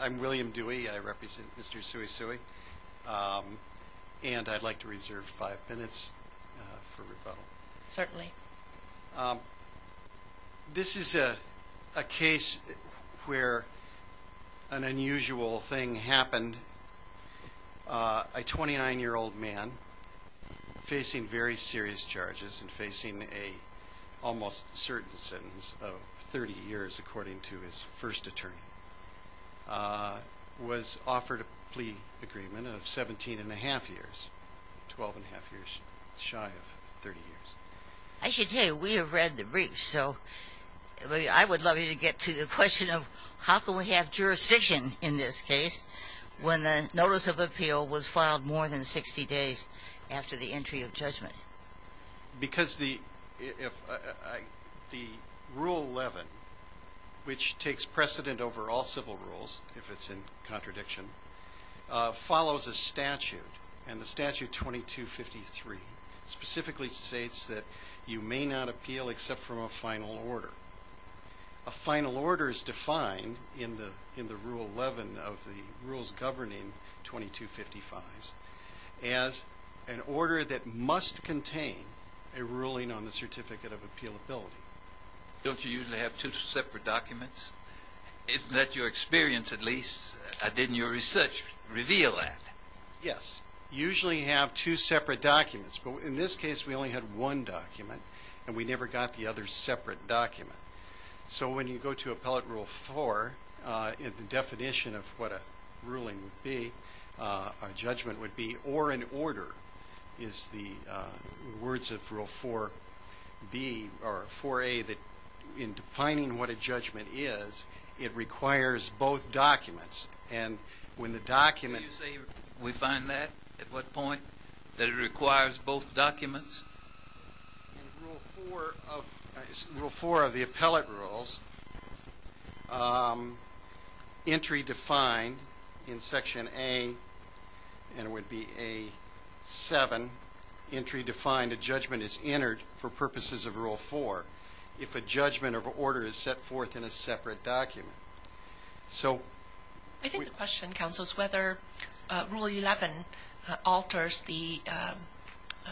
I'm William Dewey, I represent Mr. Suesue, and I'd like to reserve five minutes for rebuttal. Certainly. This is a case where an unusual thing happened. A 29-year-old man facing very serious charges and facing an almost certain sentence of 30 years, according to his first attorney, was offered a plea agreement of 17 1⁄2 years, 12 1⁄2 years, shy of 30 years. I should tell you, we have read the briefs, so I would love you to get to the question of how can we have jurisdiction in this case when the notice of appeal was filed more than 60 days after the entry of judgment? Because the Rule 11, which takes precedent over all civil rules, if it's in contradiction, follows a statute, and the statute 2253 specifically states that you may not appeal except from a final order. A final order is defined in the Rule 11 of the rules governing 2255s as an order that must contain a ruling on the certificate of appealability. Don't you usually have two separate documents? Isn't that your experience at least? Didn't your research reveal that? Yes. Usually you have two separate documents, but in this case we only had one document, and we never got the other separate document. So when you go to Appellate Rule 4, the definition of what a ruling would be, a judgment would be, or an order is the words of Rule 4a that in defining what a judgment is, it requires both documents. Do you say we find that at what point, that it requires both documents? In Rule 4 of the Appellate Rules, entry defined in Section A, and it would be A7, entry defined a judgment is entered for purposes of Rule 4 if a judgment of order is set forth in a separate document. I think the question, counsel, is whether Rule 11 alters the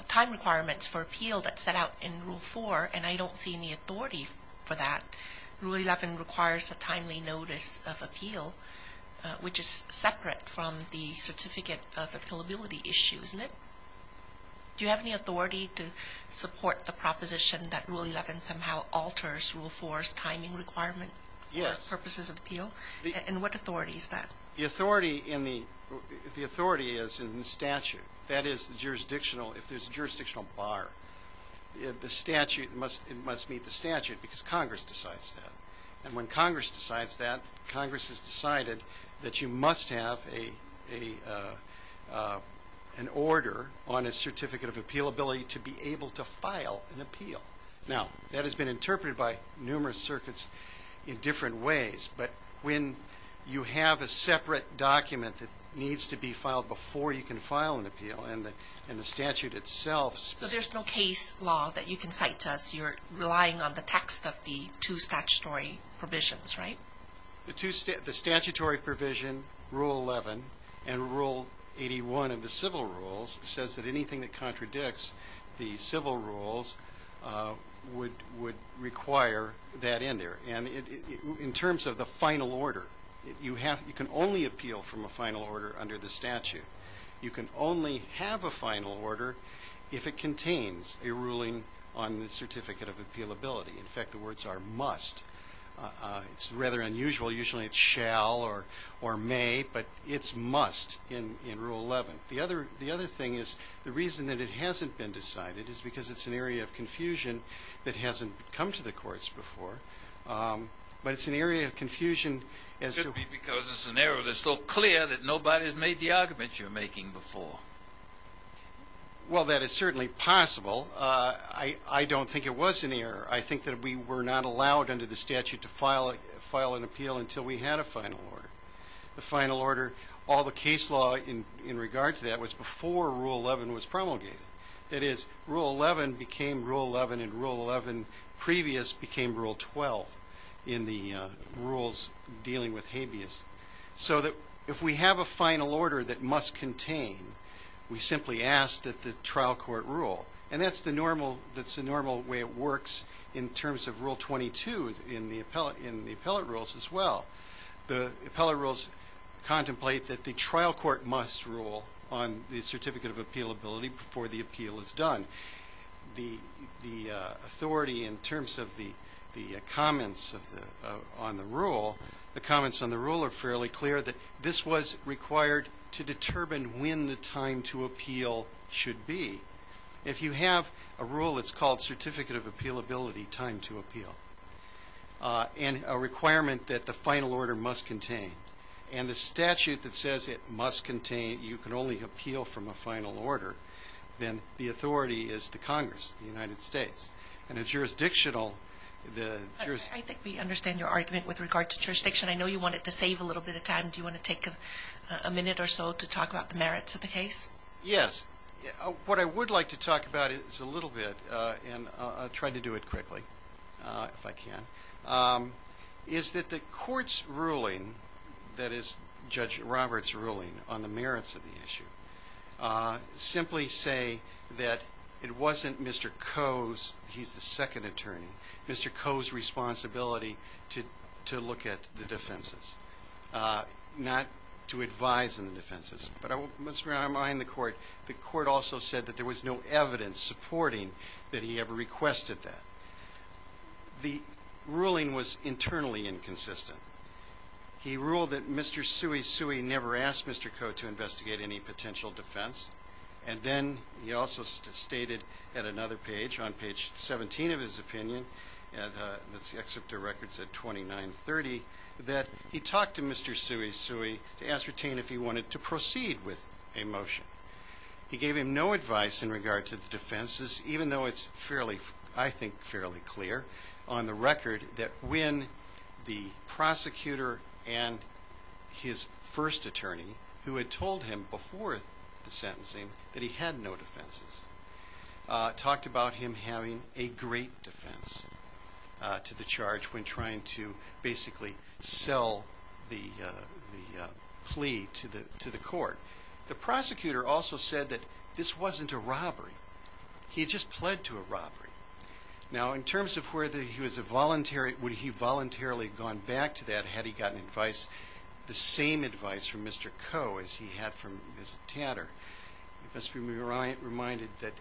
time requirements for appeal that's set out in Rule 4, and I don't see any authority for that. Rule 11 requires a timely notice of appeal, which is separate from the certificate of appealability issue, isn't it? Do you have any authority to support the proposition that Rule 11 somehow alters Rule 4's timing requirement for purposes of appeal? Yes. And what authority is that? The authority is in the statute. That is, if there's a jurisdictional bar, the statute must meet the statute because Congress decides that. And when Congress decides that, Congress has decided that you must have an order on a certificate of appealability to be able to file an appeal. Now, that has been interpreted by numerous circuits in different ways, but when you have a separate document that needs to be filed before you can file an appeal, and the statute itself... The statutory provision, Rule 11, and Rule 81 of the civil rules says that anything that contradicts the civil rules would require that in there. And in terms of the final order, you can only appeal from a final order under the statute. You can only have a final order if it contains a ruling on the certificate of appealability. In fact, the words are must. It's rather unusual. Usually it's shall or may, but it's must in Rule 11. The other thing is the reason that it hasn't been decided is because it's an area of confusion that hasn't come to the courts before, but it's an area of confusion as to... Could it be because it's an error that's so clear that nobody's made the argument you're making before? Well, that is certainly possible. I don't think it was an error. I think that we were not allowed under the statute to file an appeal until we had a final order. The final order, all the case law in regard to that was before Rule 11 was promulgated. That is, Rule 11 became Rule 11, and Rule 11 previous became Rule 12 in the rules dealing with habeas. So that if we have a final order that must contain, we simply ask that the trial court rule. And that's the normal way it works in terms of Rule 22 in the appellate rules as well. The appellate rules contemplate that the trial court must rule on the certificate of appealability before the appeal is done. The authority in terms of the comments on the rule, the comments on the rule are fairly clear that this was required to determine when the time to appeal should be. If you have a rule that's called certificate of appealability, time to appeal, and a requirement that the final order must contain, and the statute that says it must contain, you can only appeal from a final order, then the authority is the Congress, the United States. And a jurisdictional, the jurisdiction. I think we understand your argument with regard to jurisdiction. I know you wanted to save a little bit of time. Do you want to take a minute or so to talk about the merits of the case? Yes. What I would like to talk about is a little bit, and I'll try to do it quickly if I can. Is that the court's ruling, that is Judge Roberts' ruling on the merits of the issue, simply say that it wasn't Mr. Coe's, he's the second attorney, Mr. Coe's responsibility to look at the defenses, not to advise on the defenses. But I must remind the court, the court also said that there was no evidence supporting that he ever requested that. The ruling was internally inconsistent. He ruled that Mr. Sui Sui never asked Mr. Coe to investigate any potential defense, and then he also stated at another page, on page 17 of his opinion, that's the excerpt of records at 2930, that he talked to Mr. Sui Sui to ascertain if he wanted to proceed with a motion. He gave him no advice in regard to the defenses, even though it's fairly, I think, fairly clear on the record that when the prosecutor and his first attorney, who had told him before the sentencing that he had no defenses, talked about him having a great defense to the charge when trying to basically sell the plea to the court. The prosecutor also said that this wasn't a robbery. He had just pled to a robbery. Now, in terms of whether he was a voluntary, would he voluntarily have gone back to that had he gotten advice, the same advice from Mr. Coe as he had from Ms. Tatter, it must be reminded that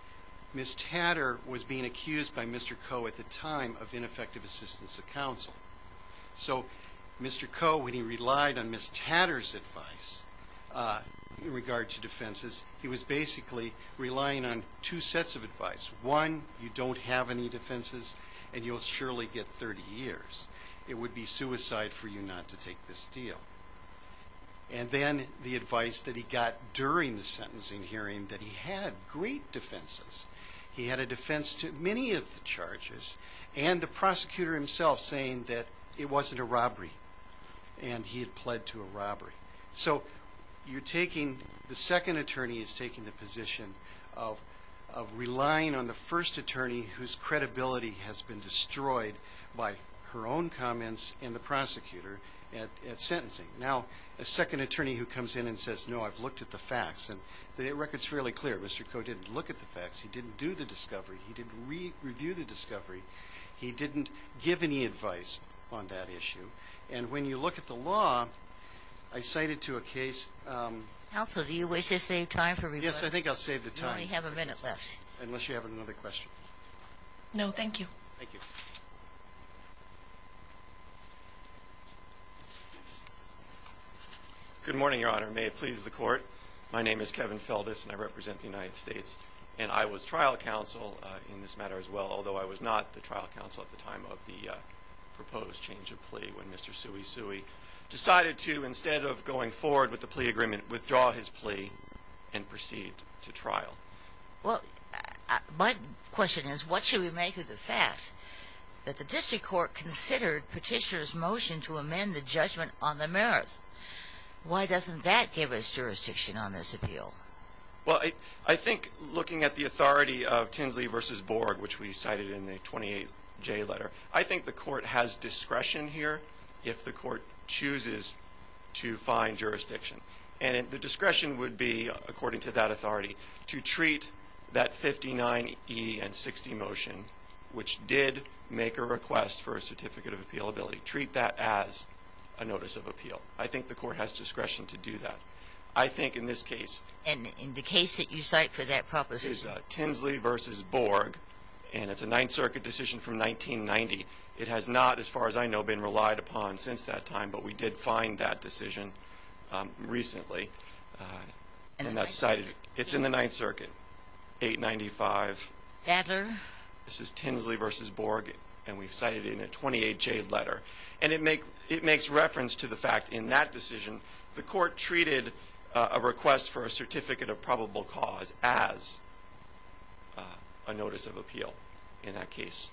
Ms. Tatter was being accused by Mr. Coe at the time of ineffective assistance of counsel. So Mr. Coe, when he relied on Ms. Tatter's advice in regard to defenses, he was basically relying on two sets of advice. One, you don't have any defenses and you'll surely get 30 years. It would be suicide for you not to take this deal. And then the advice that he got during the sentencing hearing that he had great defenses. He had a defense to many of the charges and the prosecutor himself saying that it wasn't a robbery and he had pled to a robbery. So you're taking, the second attorney is taking the position of relying on the first attorney whose credibility has been destroyed by her own comments and the prosecutor at sentencing. Now, a second attorney who comes in and says, no, I've looked at the facts, and the record's fairly clear. Mr. Coe didn't look at the facts. He didn't do the discovery. He didn't review the discovery. He didn't give any advice on that issue. And when you look at the law, I cited to a case. Counsel, do you wish to save time for me? Yes, I think I'll save the time. You only have a minute left. Unless you have another question. No, thank you. Thank you. Good morning, Your Honor. May it please the Court. My name is Kevin Feldes, and I represent the United States, and I was trial counsel in this matter as well, although I was not the trial counsel at the time of the proposed change of plea when Mr. Suey Suey decided to, instead of going forward with the plea agreement, withdraw his plea and proceed to trial. Well, my question is, what should we make of the fact that the district court considered Petitioner's motion to amend the judgment on the merits? Why doesn't that give us jurisdiction on this appeal? Well, I think looking at the authority of Tinsley v. Borg, which we cited in the 28J letter, I think the court has discretion here if the court chooses to find jurisdiction. And the discretion would be, according to that authority, to treat that 59E and 60 motion, which did make a request for a certificate of appealability, and to treat that as a notice of appeal. I think the court has discretion to do that. I think in this case. And in the case that you cite for that purpose. Is Tinsley v. Borg, and it's a Ninth Circuit decision from 1990. It has not, as far as I know, been relied upon since that time, but we did find that decision recently. It's in the Ninth Circuit, 895. Sadler. This is Tinsley v. Borg, and we've cited it in a 28J letter. And it makes reference to the fact, in that decision, the court treated a request for a certificate of probable cause as a notice of appeal in that case.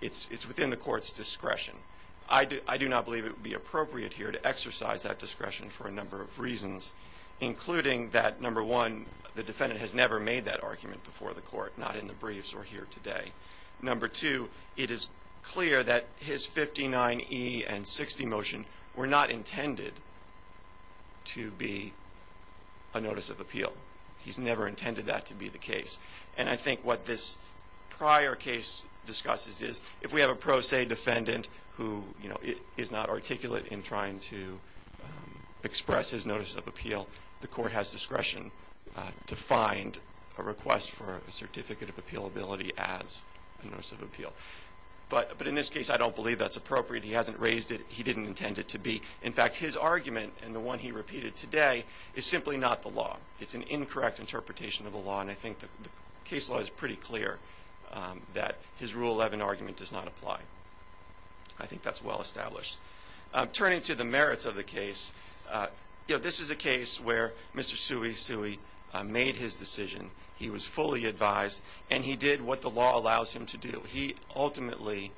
It's within the court's discretion. I do not believe it would be appropriate here to exercise that discretion for a number of reasons, including that, number one, the defendant has never made that argument before the court, not in the briefs or here today. Number two, it is clear that his 59E and 60 motion were not intended to be a notice of appeal. He's never intended that to be the case. And I think what this prior case discusses is, if we have a pro se defendant who, you know, is not articulate in trying to express his notice of appeal, the court has discretion to find a request for a certificate of appealability as a notice of appeal. But in this case, I don't believe that's appropriate. He hasn't raised it. He didn't intend it to be. In fact, his argument and the one he repeated today is simply not the law. It's an incorrect interpretation of the law, and I think the case law is pretty clear that his Rule 11 argument does not apply. Turning to the merits of the case, you know, this is a case where Mr. Tsui Tsui made his decision. He was fully advised, and he did what the law allows him to do. He ultimately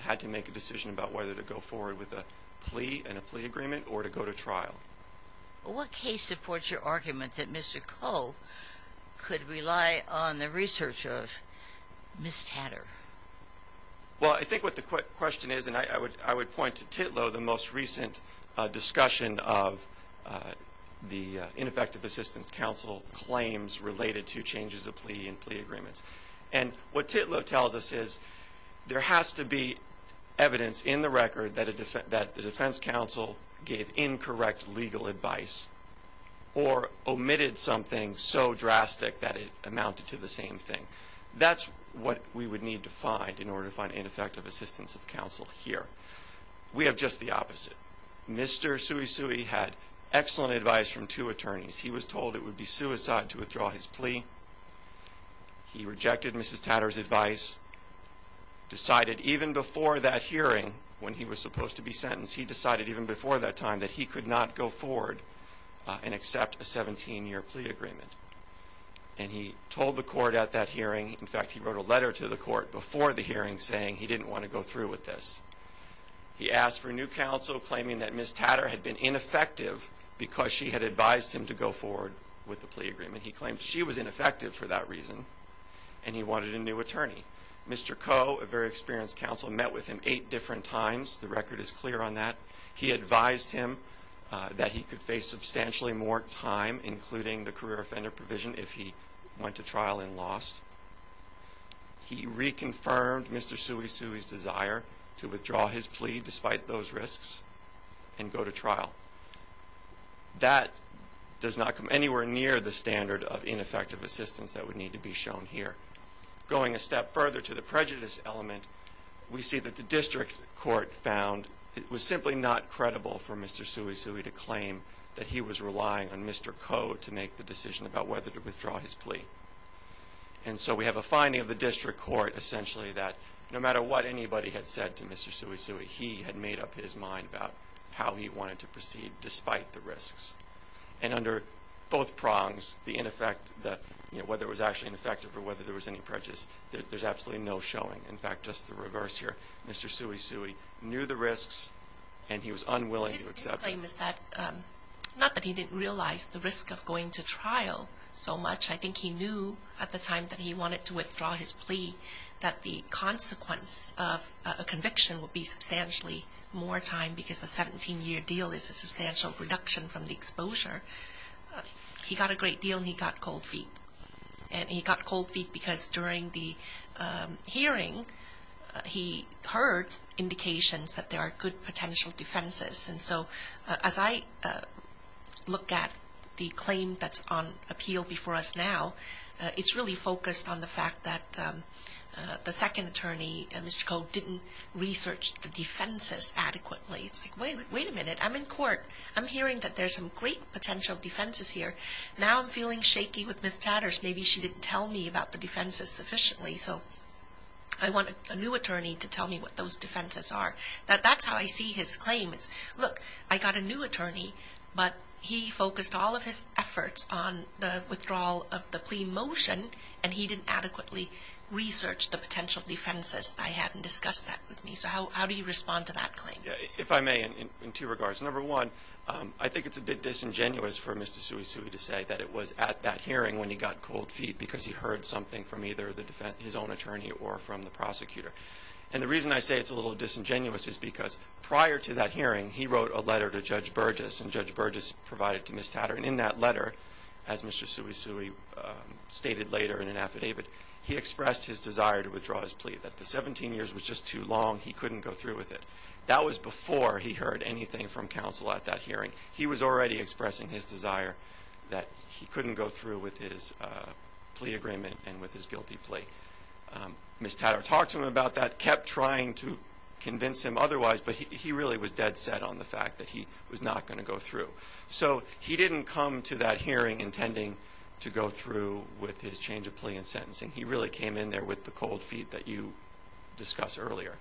had to make a decision about whether to go forward with a plea and a plea agreement or to go to trial. What case supports your argument that Mr. Koh could rely on the research of Ms. Tatter? Well, I think what the question is, and I would point to Titlow, the most recent discussion of the ineffective assistance counsel claims related to changes of plea and plea agreements. And what Titlow tells us is there has to be evidence in the record that the defense counsel gave incorrect legal advice or omitted something so drastic that it amounted to the same thing. That's what we would need to find in order to find ineffective assistance of counsel here. We have just the opposite. Mr. Tsui Tsui had excellent advice from two attorneys. He was told it would be suicide to withdraw his plea. He rejected Mrs. Tatter's advice. Decided even before that hearing, when he was supposed to be sentenced, he decided even before that time that he could not go forward and accept a 17-year plea agreement. And he told the court at that hearing, in fact, he wrote a letter to the court before the hearing saying he didn't want to go through with this. He asked for new counsel claiming that Mrs. Tatter had been ineffective because she had advised him to go forward with the plea agreement. He claimed she was ineffective for that reason, and he wanted a new attorney. Mr. Koh, a very experienced counsel, met with him eight different times. The record is clear on that. He advised him that he could face substantially more time, including the career offender provision, if he went to trial and lost. He reconfirmed Mr. Tsui Tsui's desire to withdraw his plea despite those risks and go to trial. That does not come anywhere near the standard of ineffective assistance that would need to be shown here. Going a step further to the prejudice element, we see that the district court found it was simply not credible for Mr. Tsui Tsui to claim that he was relying on Mr. Koh to make the decision about whether to withdraw his plea. And so we have a finding of the district court, essentially, that no matter what anybody had said to Mr. Tsui Tsui, he had made up his mind about how he wanted to proceed despite the risks. And under both prongs, whether it was actually ineffective or whether there was any prejudice, there's absolutely no showing. In fact, just the reverse here. Mr. Tsui Tsui knew the risks, and he was unwilling to accept them. My claim is that not that he didn't realize the risk of going to trial so much. I think he knew at the time that he wanted to withdraw his plea that the consequence of a conviction would be substantially more time because a 17-year deal is a substantial reduction from the exposure. He got a great deal, and he got cold feet. And he got cold feet because during the hearing, he heard indications that there are good potential defenses. And so as I look at the claim that's on appeal before us now, it's really focused on the fact that the second attorney, Mr. Koh, didn't research the defenses adequately. It's like, wait a minute, I'm in court. I'm hearing that there's some great potential defenses here. Now I'm feeling shaky with Ms. Chatters. Maybe she didn't tell me about the defenses sufficiently. So I want a new attorney to tell me what those defenses are. That's how I see his claim. Look, I got a new attorney, but he focused all of his efforts on the withdrawal of the plea motion, and he didn't adequately research the potential defenses I had and discuss that with me. So how do you respond to that claim? If I may, in two regards. Number one, I think it's a bit disingenuous for Mr. Suisui to say that it was at that hearing when he got cold feet because he heard something from either his own attorney or from the prosecutor. And the reason I say it's a little disingenuous is because prior to that hearing, he wrote a letter to Judge Burgess, and Judge Burgess provided to Ms. Tatter. And in that letter, as Mr. Suisui stated later in an affidavit, he expressed his desire to withdraw his plea, that the 17 years was just too long, he couldn't go through with it. That was before he heard anything from counsel at that hearing. He was already expressing his desire that he couldn't go through with his plea agreement and with his guilty plea. Ms. Tatter talked to him about that, kept trying to convince him otherwise, but he really was dead set on the fact that he was not going to go through. So he didn't come to that hearing intending to go through with his change of plea and sentencing. He really came in there with the cold feet that you discussed earlier.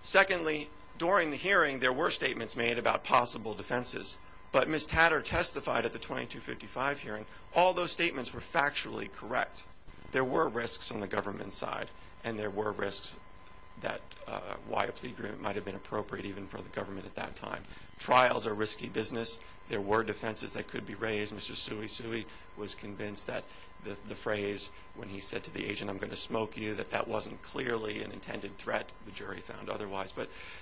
Secondly, during the hearing, there were statements made about possible defenses. But Ms. Tatter testified at the 2255 hearing, all those statements were factually correct. There were risks on the government side, and there were risks that why a plea agreement might have been appropriate even for the government at that time. Trials are risky business. There were defenses that could be raised. Mr. Suisui was convinced that the phrase when he said to the agent, I'm going to smoke you, that that wasn't clearly an intended threat. The jury found otherwise.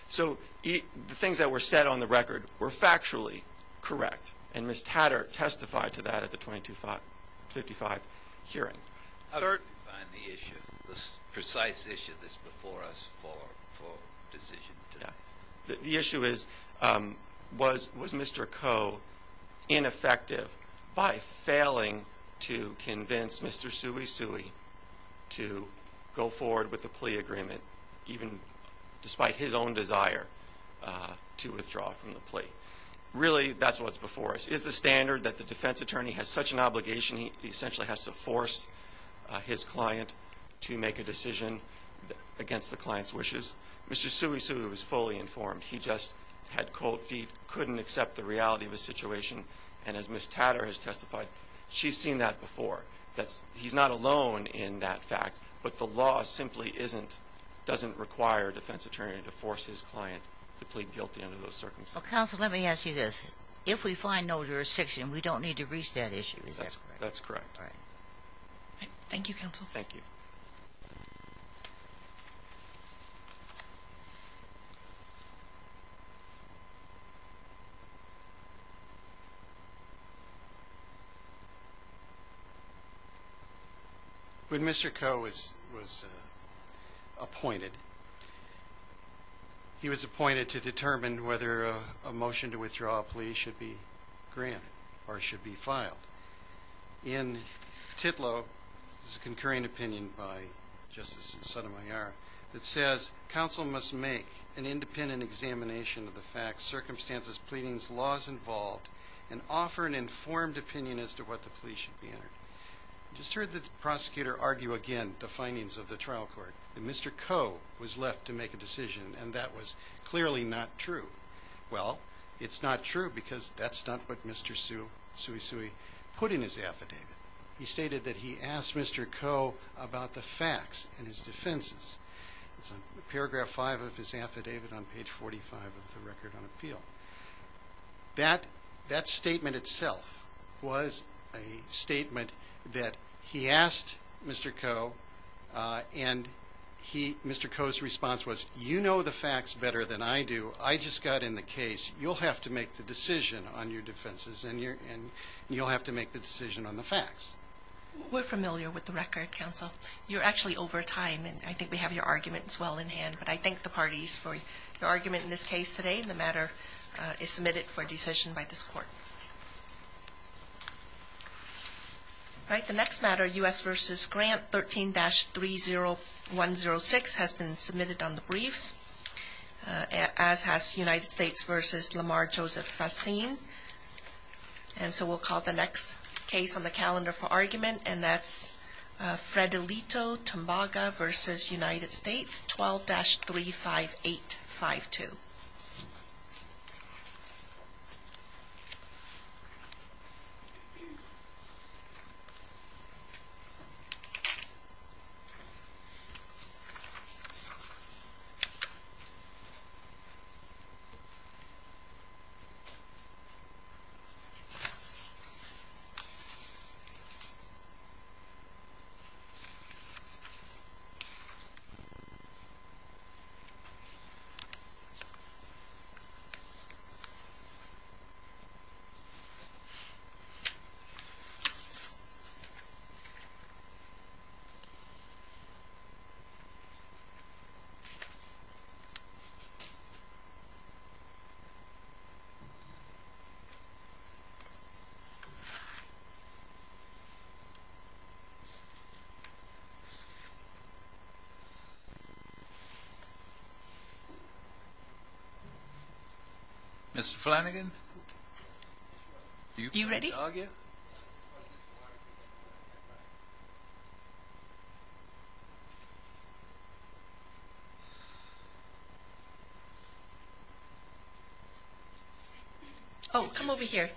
So the things that were said on the record were factually correct, and Ms. Tatter testified to that at the 2255 hearing. How do you define the issue, the precise issue that's before us for decision today? The issue is, was Mr. Koh ineffective by failing to convince Mr. Suisui to go forward with the plea agreement even despite his own desire to withdraw from the plea? Really, that's what's before us. Is the standard that the defense attorney has such an obligation, he essentially has to force his client to make a decision against the client's wishes? Mr. Suisui was fully informed. He just had cold feet, couldn't accept the reality of the situation, and as Ms. Tatter has testified, she's seen that before. He's not alone in that fact, but the law simply doesn't require a defense attorney to force his client to plead guilty under those circumstances. Counsel, let me ask you this. If we find no jurisdiction, we don't need to reach that issue, is that correct? That's correct. Thank you, counsel. Thank you. Thank you. When Mr. Koh was appointed, he was appointed to determine whether a motion to withdraw a plea should be granted or should be filed. In Titlow, there's a concurring opinion by Justice Sotomayor that says counsel must make an independent examination of the facts, circumstances, pleadings, laws involved, and offer an informed opinion as to what the plea should be entered. I just heard the prosecutor argue again the findings of the trial court that Mr. Koh was left to make a decision, and that was clearly not true. Well, it's not true because that's not what Mr. Suisui put in his affidavit. He stated that he asked Mr. Koh about the facts in his defenses. It's on paragraph 5 of his affidavit on page 45 of the record on appeal. That statement itself was a statement that he asked Mr. Koh, and Mr. Koh's response was, you know the facts better than I do. I just got in the case. You'll have to make the decision on your defenses, and you'll have to make the decision on the facts. We're familiar with the record, counsel. You're actually over time, and I think we have your arguments well in hand, but I thank the parties for your argument in this case today. The matter is submitted for decision by this court. All right, the next matter, U.S. v. Grant 13-30106, has been submitted on the briefs. As has United States v. Lamar Joseph Fassin. And so we'll call the next case on the calendar for argument, and that's Fred Alito, Tombaga v. United States, 12-35852. Thank you. Mr. Flanagan? Are you ready? Can I jog you? Oh, come over here.